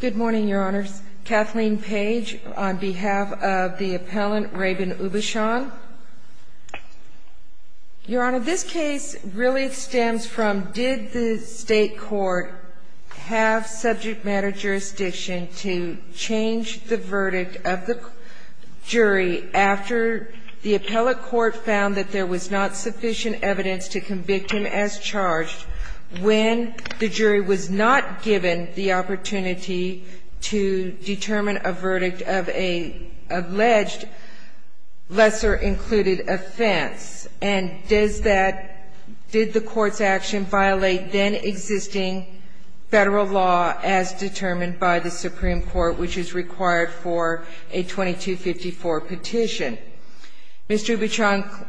Good morning, Your Honors. Kathleen Page on behalf of the appellant Rabin Oubichon. Your Honor, this case really stems from did the state court have subject matter jurisdiction to change the verdict of the jury after the appellate court found that there was not sufficient evidence to convict him as charged when the jury was not given the opportunity to determine a verdict of a alleged lesser included offense and did the court's action violate then existing federal law as determined by the Supreme Court which is required for a 2254 petition. Mr. Oubichon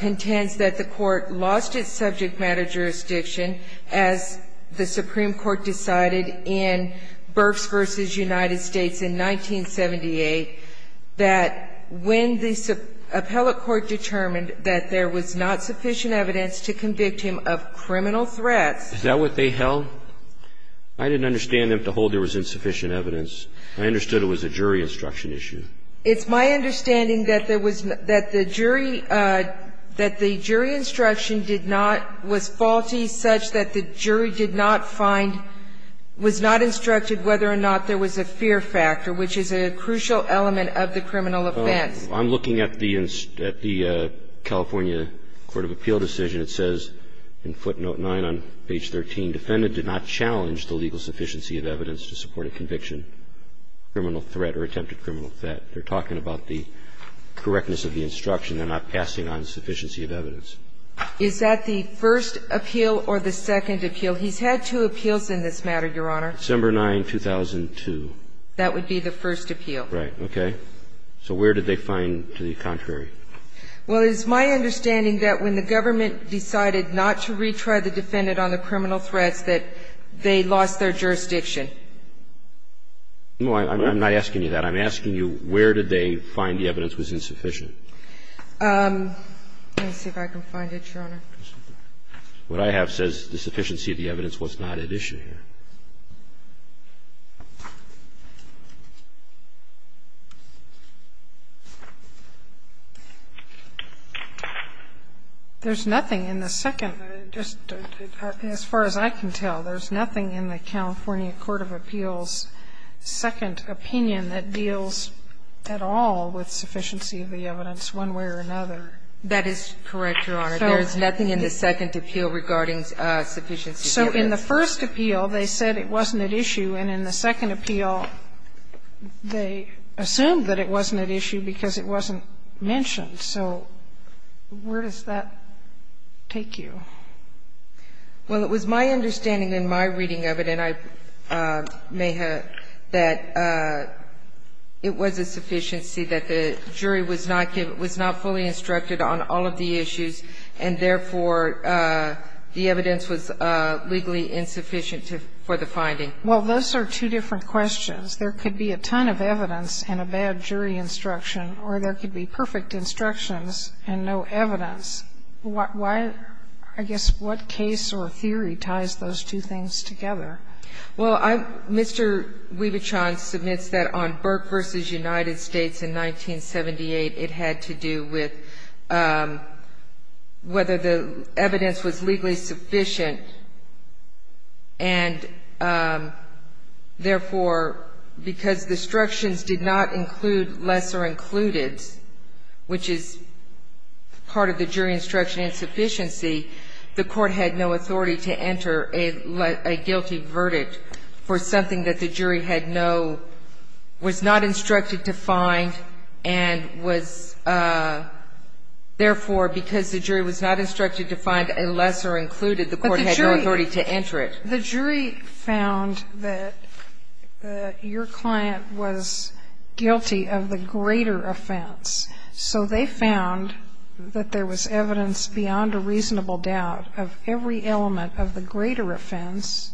contends that the court lost its subject matter jurisdiction as the Supreme Court decided in Burks v. United States in 1978 that when the appellate court determined that there was not sufficient evidence to convict him of criminal threats. Is that what they held? I didn't understand them to hold there was insufficient evidence. I understood it was a jury instruction issue. It's my understanding that there was not, that the jury, that the jury instruction did not, was faulty such that the jury did not find, was not instructed whether or not there was a fear factor, which is a crucial element of the criminal offense. I'm looking at the California Court of Appeal decision. It says in footnote 9 on page 13, defendant did not challenge the legal sufficiency of evidence to support a conviction, criminal threat or attempted criminal threat. They're talking about the correctness of the instruction. They're not passing on sufficiency of evidence. Is that the first appeal or the second appeal? He's had two appeals in this matter, Your Honor. December 9, 2002. That would be the first appeal. Right. Okay. So where did they find the contrary? Well, it's my understanding that when the government decided not to retry the defendant on the criminal threats that they lost their jurisdiction. No, I'm not asking you that. I'm asking you where did they find the evidence was insufficient. Let me see if I can find it, Your Honor. What I have says the sufficiency of the evidence was not at issue here. There's nothing in the second. As far as I can tell, there's nothing in the California Court of Appeals' second opinion that deals at all with sufficiency of the evidence one way or another. That is correct, Your Honor. There's nothing in the second appeal regarding sufficiency of evidence. So in the first appeal, they said it wasn't at issue, and in the second appeal, they assumed that it wasn't at issue because it wasn't mentioned. So where does that take you? Well, it was my understanding in my reading of it, and I may have, that it was a sufficiency that the jury was not fully instructed on all of the issues, and therefore, the evidence was legally insufficient for the finding. Well, those are two different questions. There could be a ton of evidence and a bad jury instruction, or there could be perfect instructions and no evidence. Why, I guess, what case or theory ties those two things together? Well, Mr. Wiebichon submits that on Burke v. United States in 1978, it had to do with whether the evidence was legally sufficient, and therefore, because the instructions did not include lesser included, which is part of the jury instruction insufficiency, the court had no authority to enter a guilty verdict for something that the jury had no, was not instructed to find, and was therefore, because the jury was not instructed to find a lesser included, the court had no authority to enter it. The jury found that your client was guilty of the greater offense. So they found that there was evidence beyond a reasonable doubt of every element of the greater offense,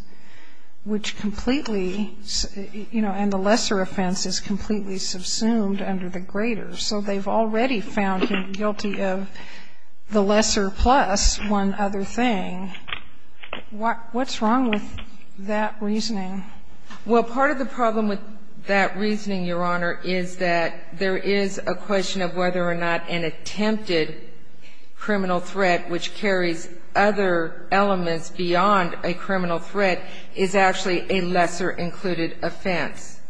which completely, you know, and the lesser offense is completely subsumed under the greater. So they've already found him guilty of the lesser plus one other thing. What's wrong with that reasoning? Well, part of the problem with that reasoning, Your Honor, is that there is a question of whether or not an attempted criminal threat which carries other elements beyond a criminal threat is actually a lesser included offense.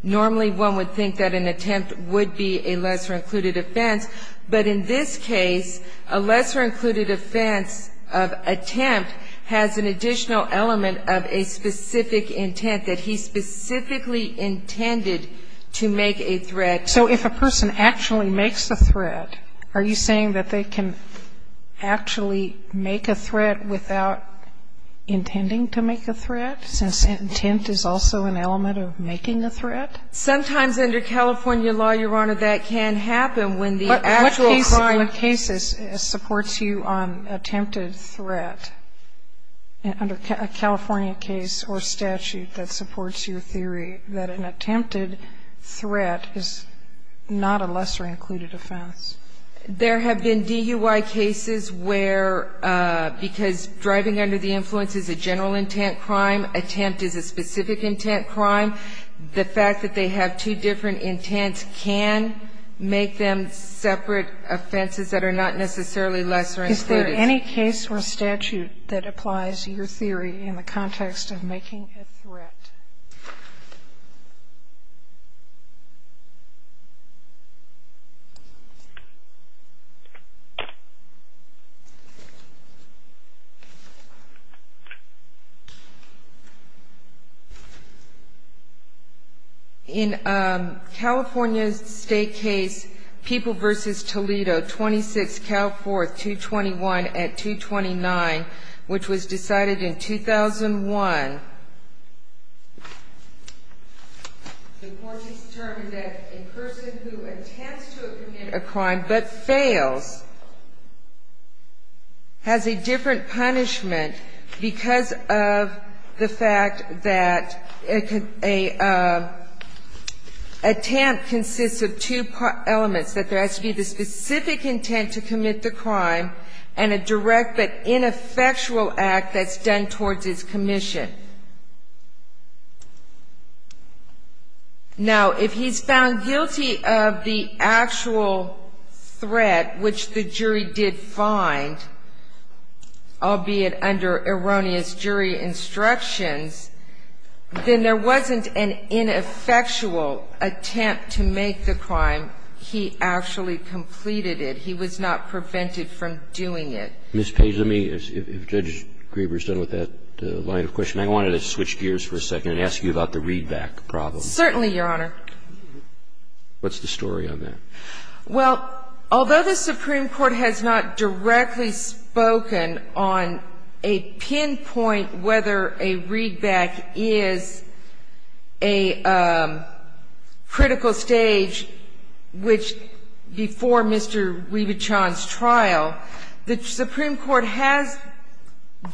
Normally, one would think that an attempt would be a lesser included offense, but in this case, a lesser included offense of attempt has an additional element of a specific intent, that he specifically intended to make a threat. So if a person actually makes a threat, are you saying that they can actually make a threat without intending to make a threat, since intent is also an element of making a threat? Sometimes under California law, Your Honor, that can happen when the actual crime case is an attempted threat. But what case supports you on attempted threat under a California case or statute that supports your theory that an attempted threat is not a lesser included offense? There have been DUI cases where, because driving under the influence is a general intent crime, attempt is a specific intent crime, the fact that they have two different intents can make them separate offenses that are not necessarily lesser included. Is there any case or statute that applies your theory in the context of making a threat? In a California State case, People v. Toledo, 26 Cal 4th, 221 at 229, which was The court has determined that a person who intends to commit a crime but fails has a different punishment because of the fact that an attempt consists of two elements, that there has to be the specific intent to commit the crime and a direct but ineffectual act that's done towards its commission. Now, if he's found guilty of the actual threat, which the jury did find, albeit under erroneous jury instructions, then there wasn't an ineffectual attempt to make the crime. He actually completed it. He was not prevented from doing it. Ms. Paisley, if Judge Grieber is done with that line of questioning, I wanted to switch gears for a second and ask you about the readback problem. Certainly, Your Honor. What's the story on that? Well, although the Supreme Court has not directly spoken on a pinpoint whether a readback is a critical stage, which before Mr. Weaver-Chan's trial, the Supreme Court has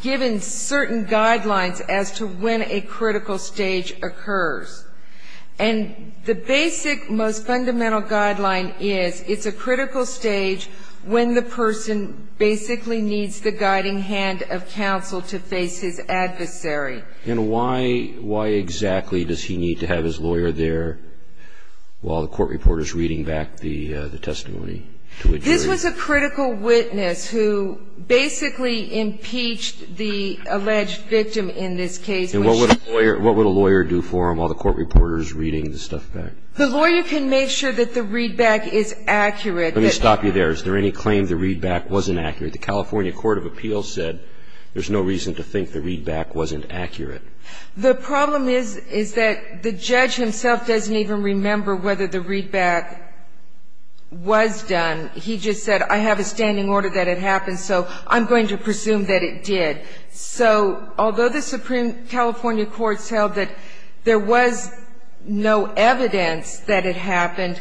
given certain guidelines as to when a critical stage occurs. And the basic, most fundamental guideline is it's a critical stage when the person basically needs the guiding hand of counsel to face his adversary. And why exactly does he need to have his lawyer there while the court reporter is reading back the testimony to a jury? This was a critical witness who basically impeached the alleged victim in this case. And what would a lawyer do for him while the court reporter is reading the stuff back? The lawyer can make sure that the readback is accurate. Let me stop you there. Is there any claim the readback wasn't accurate? The California Court of Appeals said there's no reason to think the readback wasn't accurate. The problem is, is that the judge himself doesn't even remember whether the readback was done. He just said, I have a standing order that it happened, so I'm going to presume that it did. So although the Supreme California Court held that there was no evidence that it happened,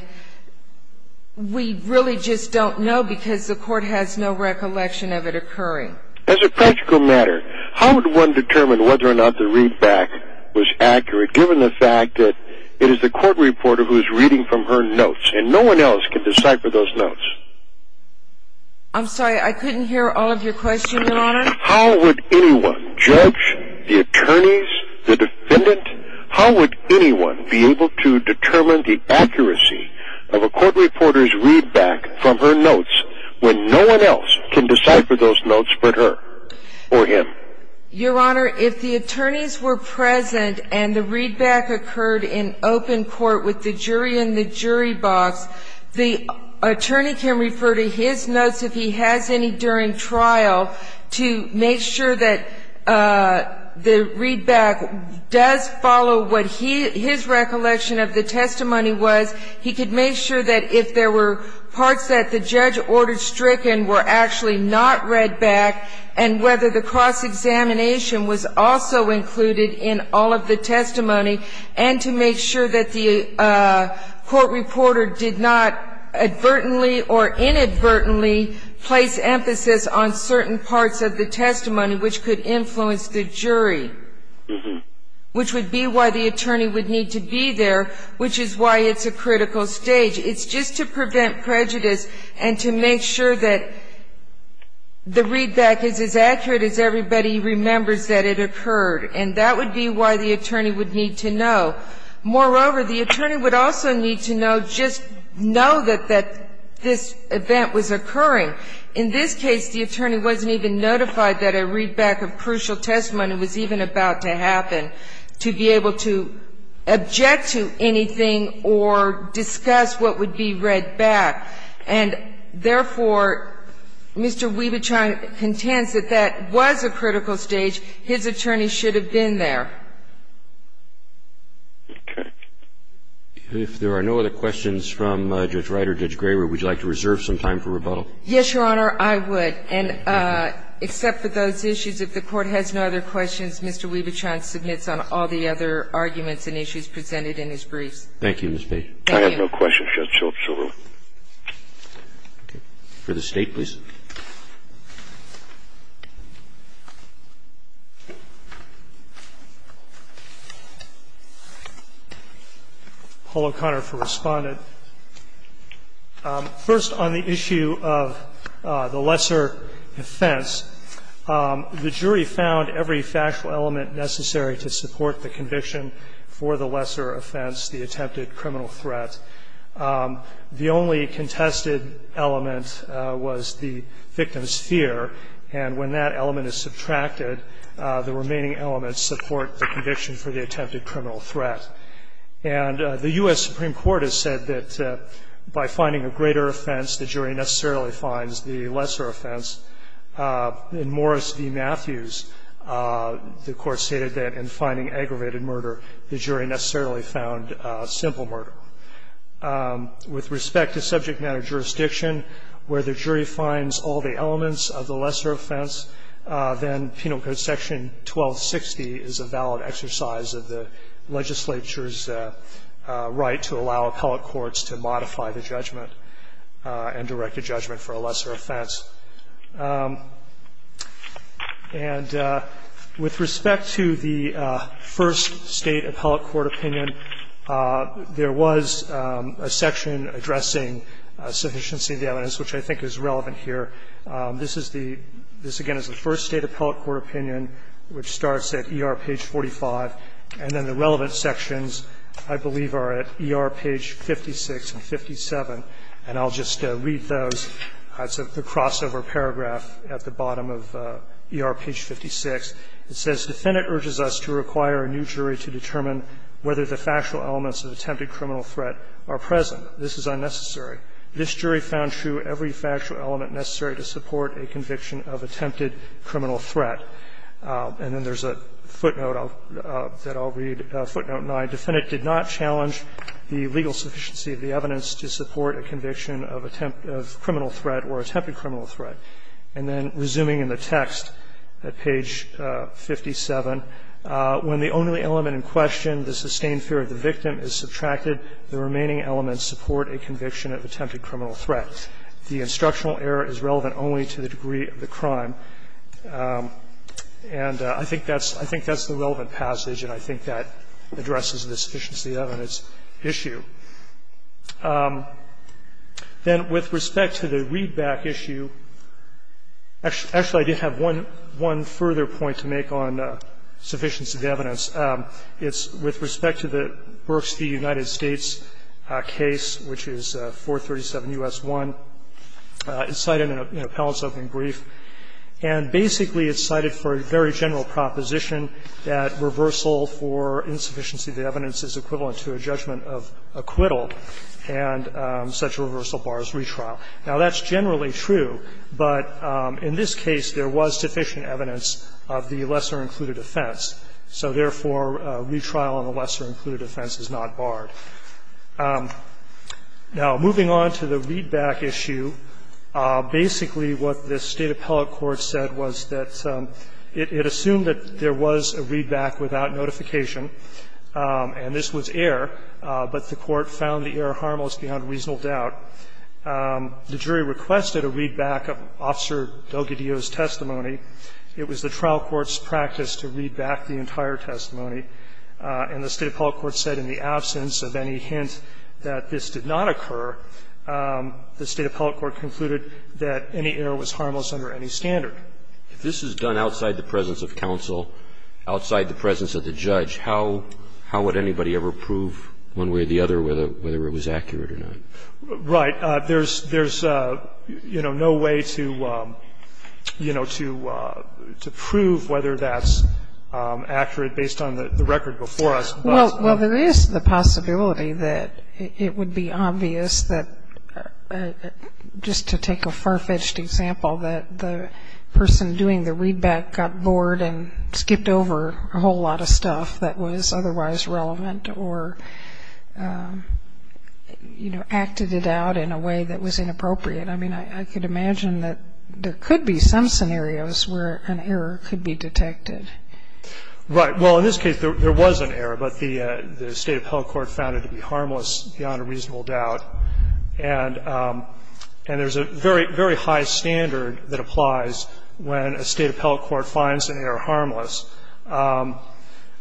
we really just don't know because the court has no recollection of it occurring. As a practical matter, how would one determine whether or not the readback was accurate, given the fact that it is the court reporter who is reading from her notes? I'm sorry, I couldn't hear all of your questions, Your Honor. How would anyone, judge, the attorneys, the defendant, how would anyone be able to determine the accuracy of a court reporter's readback from her notes when no one else can decipher those notes but her or him? Your Honor, if the attorneys were present and the readback occurred in open court with the jury in the jury box, the attorney can refer to his notes if he has any during trial to make sure that the readback does follow what his recollection of the testimony was. He could make sure that if there were parts that the judge ordered stricken were actually not read back and whether the cross-examination was also included in all of the testimony, and to make sure that the court reporter did not advertently or inadvertently place emphasis on certain parts of the testimony which could influence the jury, which would be why the attorney would need to be there, which is why it's a critical stage. It's just to prevent prejudice and to make sure that the readback is as accurate as everybody remembers that it occurred. And that would be why the attorney would need to know. Moreover, the attorney would also need to know, just know that this event was occurring. In this case, the attorney wasn't even notified that a readback of crucial testimony was even about to happen, to be able to object to anything or discuss what would be read back. And, therefore, Mr. Wiebechaar contends that that was a critical stage. His attorney should have been there. Okay. If there are no other questions from Judge Wright or Judge Graber, would you like to reserve some time for rebuttal? Yes, Your Honor, I would. And except for those issues, if the Court has no other questions, Mr. Wiebechaar submits on all the other arguments and issues presented in his briefs. Thank you, Ms. Page. Thank you. I have no questions, Judge Schill. Okay. For the State, please. Polo Conner for Respondent. First, on the issue of the lesser offense, the jury found every factual element necessary to support the conviction for the lesser offense, the attempted criminal threat. The only contested element was the victim's fear, and when that element is subtracted, the remaining elements support the conviction for the attempted criminal threat. And the U.S. Supreme Court has said that by finding a greater offense, the jury necessarily finds the lesser offense. In Morris v. Matthews, the Court stated that in finding aggravated murder, the jury necessarily found simple murder. With respect to subject matter jurisdiction, where the jury finds all the elements of the lesser offense, then Penal Code Section 1260 is a valid exercise of the legislature's right to allow appellate courts to modify the judgment and direct a judgment for a lesser offense. And with respect to the first State appellate court opinion, there was a number of sections that I believe are relevant. There was a section addressing sufficiency of the evidence, which I think is relevant here. This is the – this, again, is the first State appellate court opinion, which starts at ER page 45, and then the relevant sections, I believe, are at ER page 56 and 57, and I'll just read those. It's the crossover paragraph at the bottom of ER page 56. It says, Defendant urges us to require a new jury to determine whether the factual elements of attempted criminal threat are present. This is unnecessary. This jury found true every factual element necessary to support a conviction of attempted criminal threat. And then there's a footnote that I'll read, footnote 9. Defendant did not challenge the legal sufficiency of the evidence to support a conviction of attempted criminal threat or attempted criminal threat. And then resuming in the text at page 57, when the only element in question, the sustained fear of the victim, is subtracted, the remaining elements support a conviction of attempted criminal threat. The instructional error is relevant only to the degree of the crime. And I think that's – I think that's the relevant passage, and I think that addresses the sufficiency of evidence issue. Then with respect to the readback issue, actually, I did have one further point to make on sufficiency of evidence. It's with respect to the Berks v. United States case, which is 437 U.S. 1. It's cited in an appellant's open brief, and basically it's cited for a very general proposition that reversal for insufficiency of evidence is equivalent to a judgment of acquittal, and such a reversal bars retrial. Now, that's generally true, but in this case, there was sufficient evidence of the lesser-included offense. So therefore, retrial on the lesser-included offense is not barred. Now, moving on to the readback issue, basically what this State appellate court said was that it assumed that there was a readback without notification, and this was error, but the Court found the error harmless beyond reasonable doubt. The jury requested a readback of Officer Delgadillo's testimony. It was the trial court's practice to read back the entire testimony, and the State appellate court said in the absence of any hint that this did not occur, the State appellate court concluded that any error was harmless under any standard. If this is done outside the presence of counsel, outside the presence of the judge, how would anybody ever prove one way or the other whether it was accurate or not? Right. There's, you know, no way to, you know, to prove whether that's accurate based on the record before us. Well, there is the possibility that it would be obvious that, just to take a far-fetched example, that the person doing the readback got bored and skipped over a whole lot of stuff that was otherwise relevant or, you know, acted it out in a way that was inappropriate. I mean, I could imagine that there could be some scenarios where an error could be detected. Right. Well, in this case, there was an error, but the State appellate court found it to be that applies when a State appellate court finds an error harmless.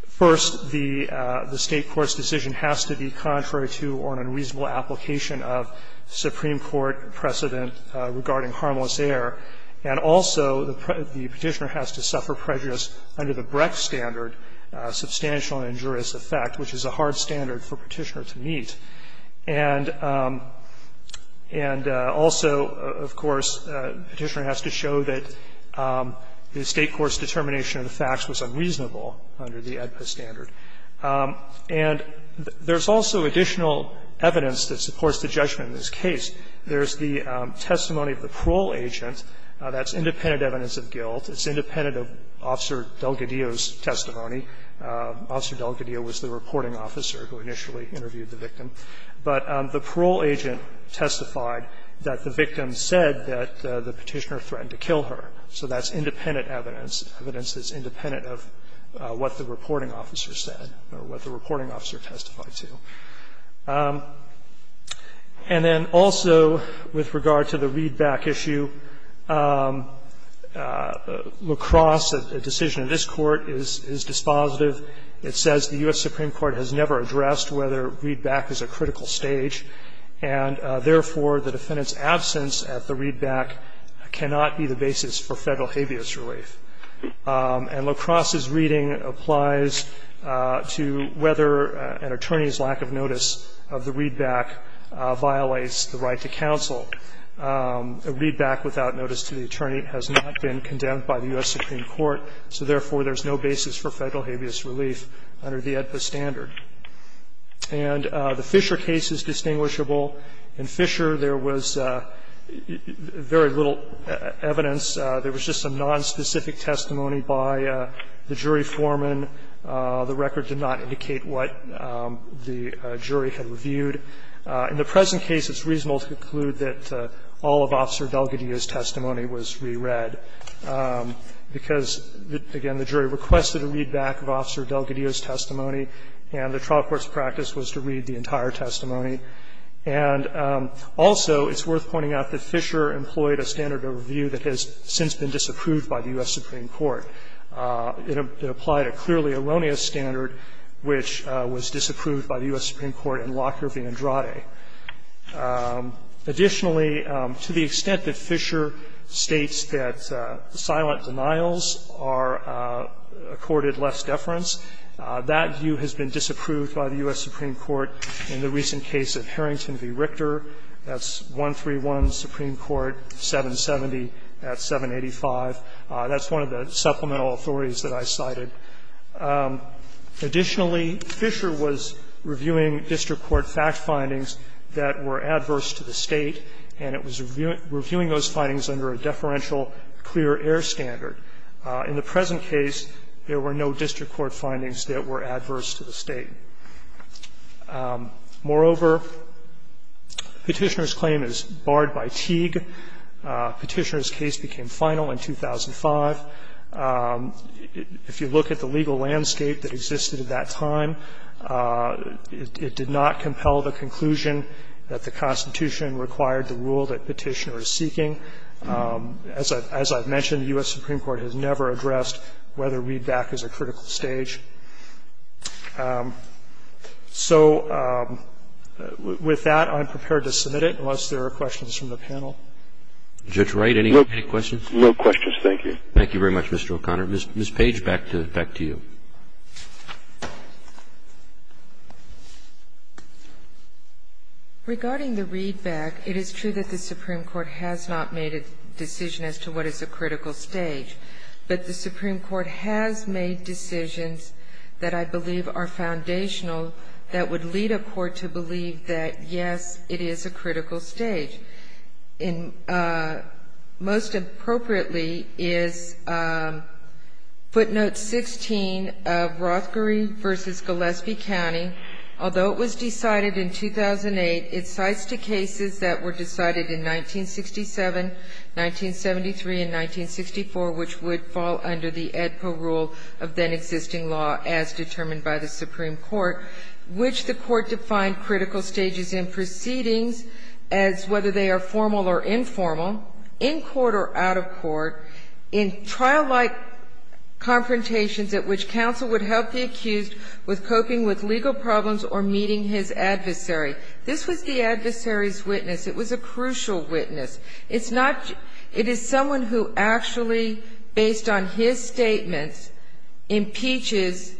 First, the State court's decision has to be contrary to or an unreasonable application of Supreme Court precedent regarding harmless error. And also, the Petitioner has to suffer prejudice under the Brecht standard, substantial injurious effect, which is a hard standard for Petitioner to meet. And also, of course, Petitioner has to show that the State court's determination of the facts was unreasonable under the AEDPA standard. And there's also additional evidence that supports the judgment in this case. There's the testimony of the parole agent. That's independent evidence of guilt. It's independent of Officer Delgadillo's testimony. Officer Delgadillo was the reporting officer who initially interviewed the victim. But the parole agent testified that the victim said that the Petitioner threatened to kill her, so that's independent evidence, evidence that's independent of what the reporting officer said or what the reporting officer testified to. And then also, with regard to the readback issue, La Crosse, a decision of this court, is dispositive. It says the U.S. Supreme Court has never addressed whether readback is a critical stage, and therefore, the defendant's absence at the readback cannot be the basis for Federal habeas relief. And La Crosse's reading applies to whether an attorney's lack of notice of the readback violates the right to counsel. A readback without notice to the attorney has not been condemned by the U.S. Supreme Court, and therefore, the defendant's absence at the readback cannot be the basis for Federal habeas relief under the AEDPA standard. And the Fisher case is distinguishable. In Fisher, there was very little evidence. There was just some nonspecific testimony by the jury foreman. The record did not indicate what the jury had reviewed. In the present case, it's reasonable to conclude that all of Officer Delgadillo's testimony was re-read, because, again, the jury requested a readback of Officer Delgadillo's testimony, and the trial court's practice was to read the entire testimony. And also, it's worth pointing out that Fisher employed a standard of review that has since been disapproved by the U.S. Supreme Court. It applied a clearly erroneous standard, which was disapproved by the U.S. Supreme Court in Andrade. Additionally, to the extent that Fisher states that silent denials are accorded less deference, that view has been disapproved by the U.S. Supreme Court in the recent case of Harrington v. Richter. That's 131 Supreme Court, 770 at 785. That's one of the supplemental authorities that I cited. Additionally, Fisher was reviewing district court fact findings that were adverse to the State, and it was reviewing those findings under a deferential clear-error standard. In the present case, there were no district court findings that were adverse to the State. Moreover, Petitioner's claim is barred by Teague. Petitioner's case became final in 2005. If you look at the legal landscape that existed at that time, it did not compel the conclusion that the Constitution required the rule that Petitioner is seeking. As I've mentioned, the U.S. Supreme Court has never addressed whether readback is a critical stage. So with that, I'm prepared to submit it, unless there are questions from the panel. Roberts. Judge Wright, any questions? No questions, thank you. Thank you very much, Mr. O'Connor. Ms. Page, back to you. Regarding the readback, it is true that the Supreme Court has not made a decision as to what is a critical stage, but the Supreme Court has made decisions that I believe are foundational that would lead a court to believe that, yes, it is a critical stage. And most appropriately is footnote 16 of Rothgerie v. Gillespie County. Although it was decided in 2008, it cites the cases that were decided in 1967, 1973, and 1964, which would fall under the AEDPA rule of then-existing law as determined by the Supreme Court, which the Court defined critical stages in proceedings as whether they are formal or informal, in court or out of court, in trial-like confrontations at which counsel would help the accused with coping with legal problems or meeting his adversary. This was the adversary's witness. It was a crucial witness. It's not just – it is someone who actually, based on his statements, impeaches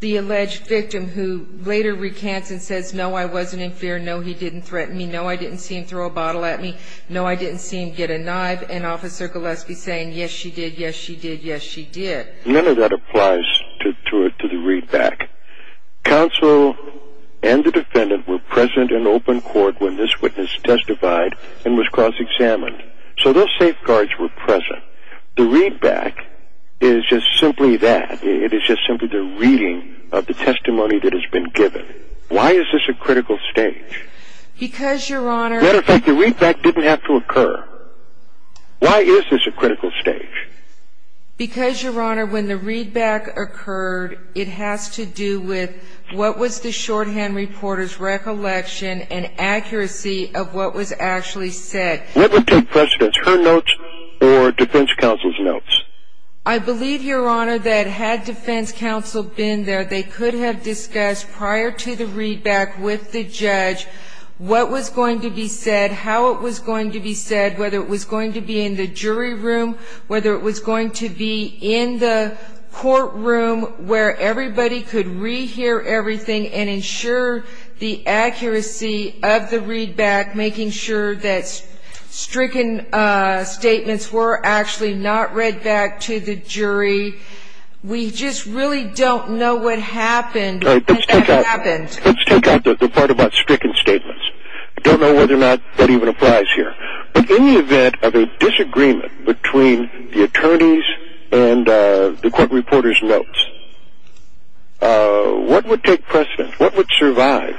the alleged victim who later recants and says, no, I wasn't in fear, no, he didn't threaten me, no, I didn't see him throw a bottle at me, no, I didn't see him get a knife, and Officer Gillespie saying, yes, she did, yes, she did, yes, she did. None of that applies to the readback. Counsel and the defendant were present in open court when this witness testified and was cross-examined. So those safeguards were present. The readback is just simply that. It is just simply the reading of the testimony that has been given. Why is this a critical stage? Because, Your Honor – As a matter of fact, the readback didn't have to occur. Why is this a critical stage? Because, Your Honor, when the readback occurred, it has to do with what was the shorthand reporter's recollection and accuracy of what was actually said. What would take precedence, her notes or defense counsel's notes? I believe, Your Honor, that had defense counsel been there, they could have discussed prior to the readback with the judge what was going to be said, how it was going to be said, whether it was going to be in the jury room, whether it was going to be in the courtroom where everybody could re-hear everything and ensure the accuracy of the readback, making sure that stricken We just really don't know what happened. Let's take out the part about stricken statements. I don't know whether or not that even applies here. But in the event of a disagreement between the attorneys and the court reporter's notes, what would take precedence? What would survive?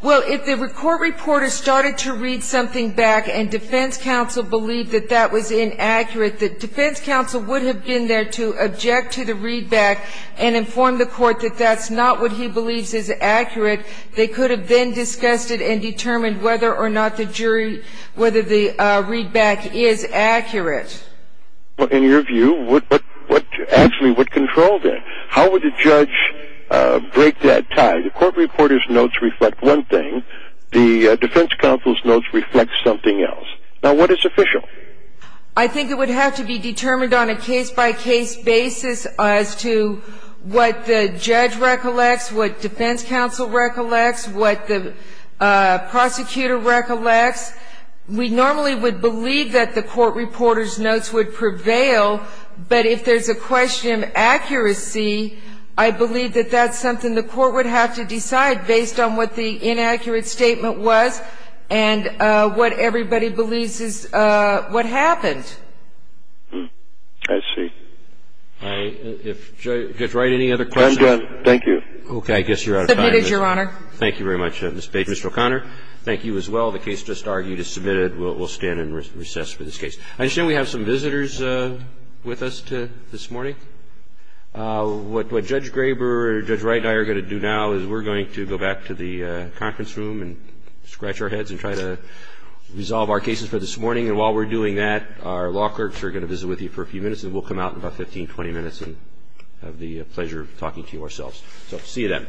Well, if the court reporter started to read something back and defense counsel believed that that was inaccurate, the defense counsel would have been there to object to the readback and inform the court that that's not what he believes is accurate. They could have then discussed it and determined whether or not the jury, whether the readback is accurate. Well, in your view, what actually would control that? How would the judge break that tie? The court reporter's notes reflect one thing. The defense counsel's notes reflect something else. Now, what is official? I think it would have to be determined on a case-by-case basis as to what the judge recollects, what defense counsel recollects, what the prosecutor recollects. We normally would believe that the court reporter's notes would prevail, but if there's a question of accuracy, I believe that that's something the court would have to decide based on what the inaccurate statement was and what everybody believes is what happened. I see. All right. Judge Wright, any other questions? I'm done. Thank you. Okay. I guess you're out of time. Submitted, Your Honor. Thank you very much, Ms. Page. Mr. O'Connor, thank you as well. The case just argued is submitted. We'll stand and recess for this case. I understand we have some visitors with us this morning. What Judge Graber or Judge Wright and I are going to do now is we're going to go back to the conference room and scratch our heads and try to resolve our cases for this morning. And while we're doing that, our law clerks are going to visit with you for a few minutes, and we'll come out in about 15, 20 minutes and have the pleasure of talking to you ourselves. So see you then.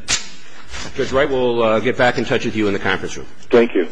Judge Wright, we'll get back in touch with you in the conference room. Thank you. Thank you.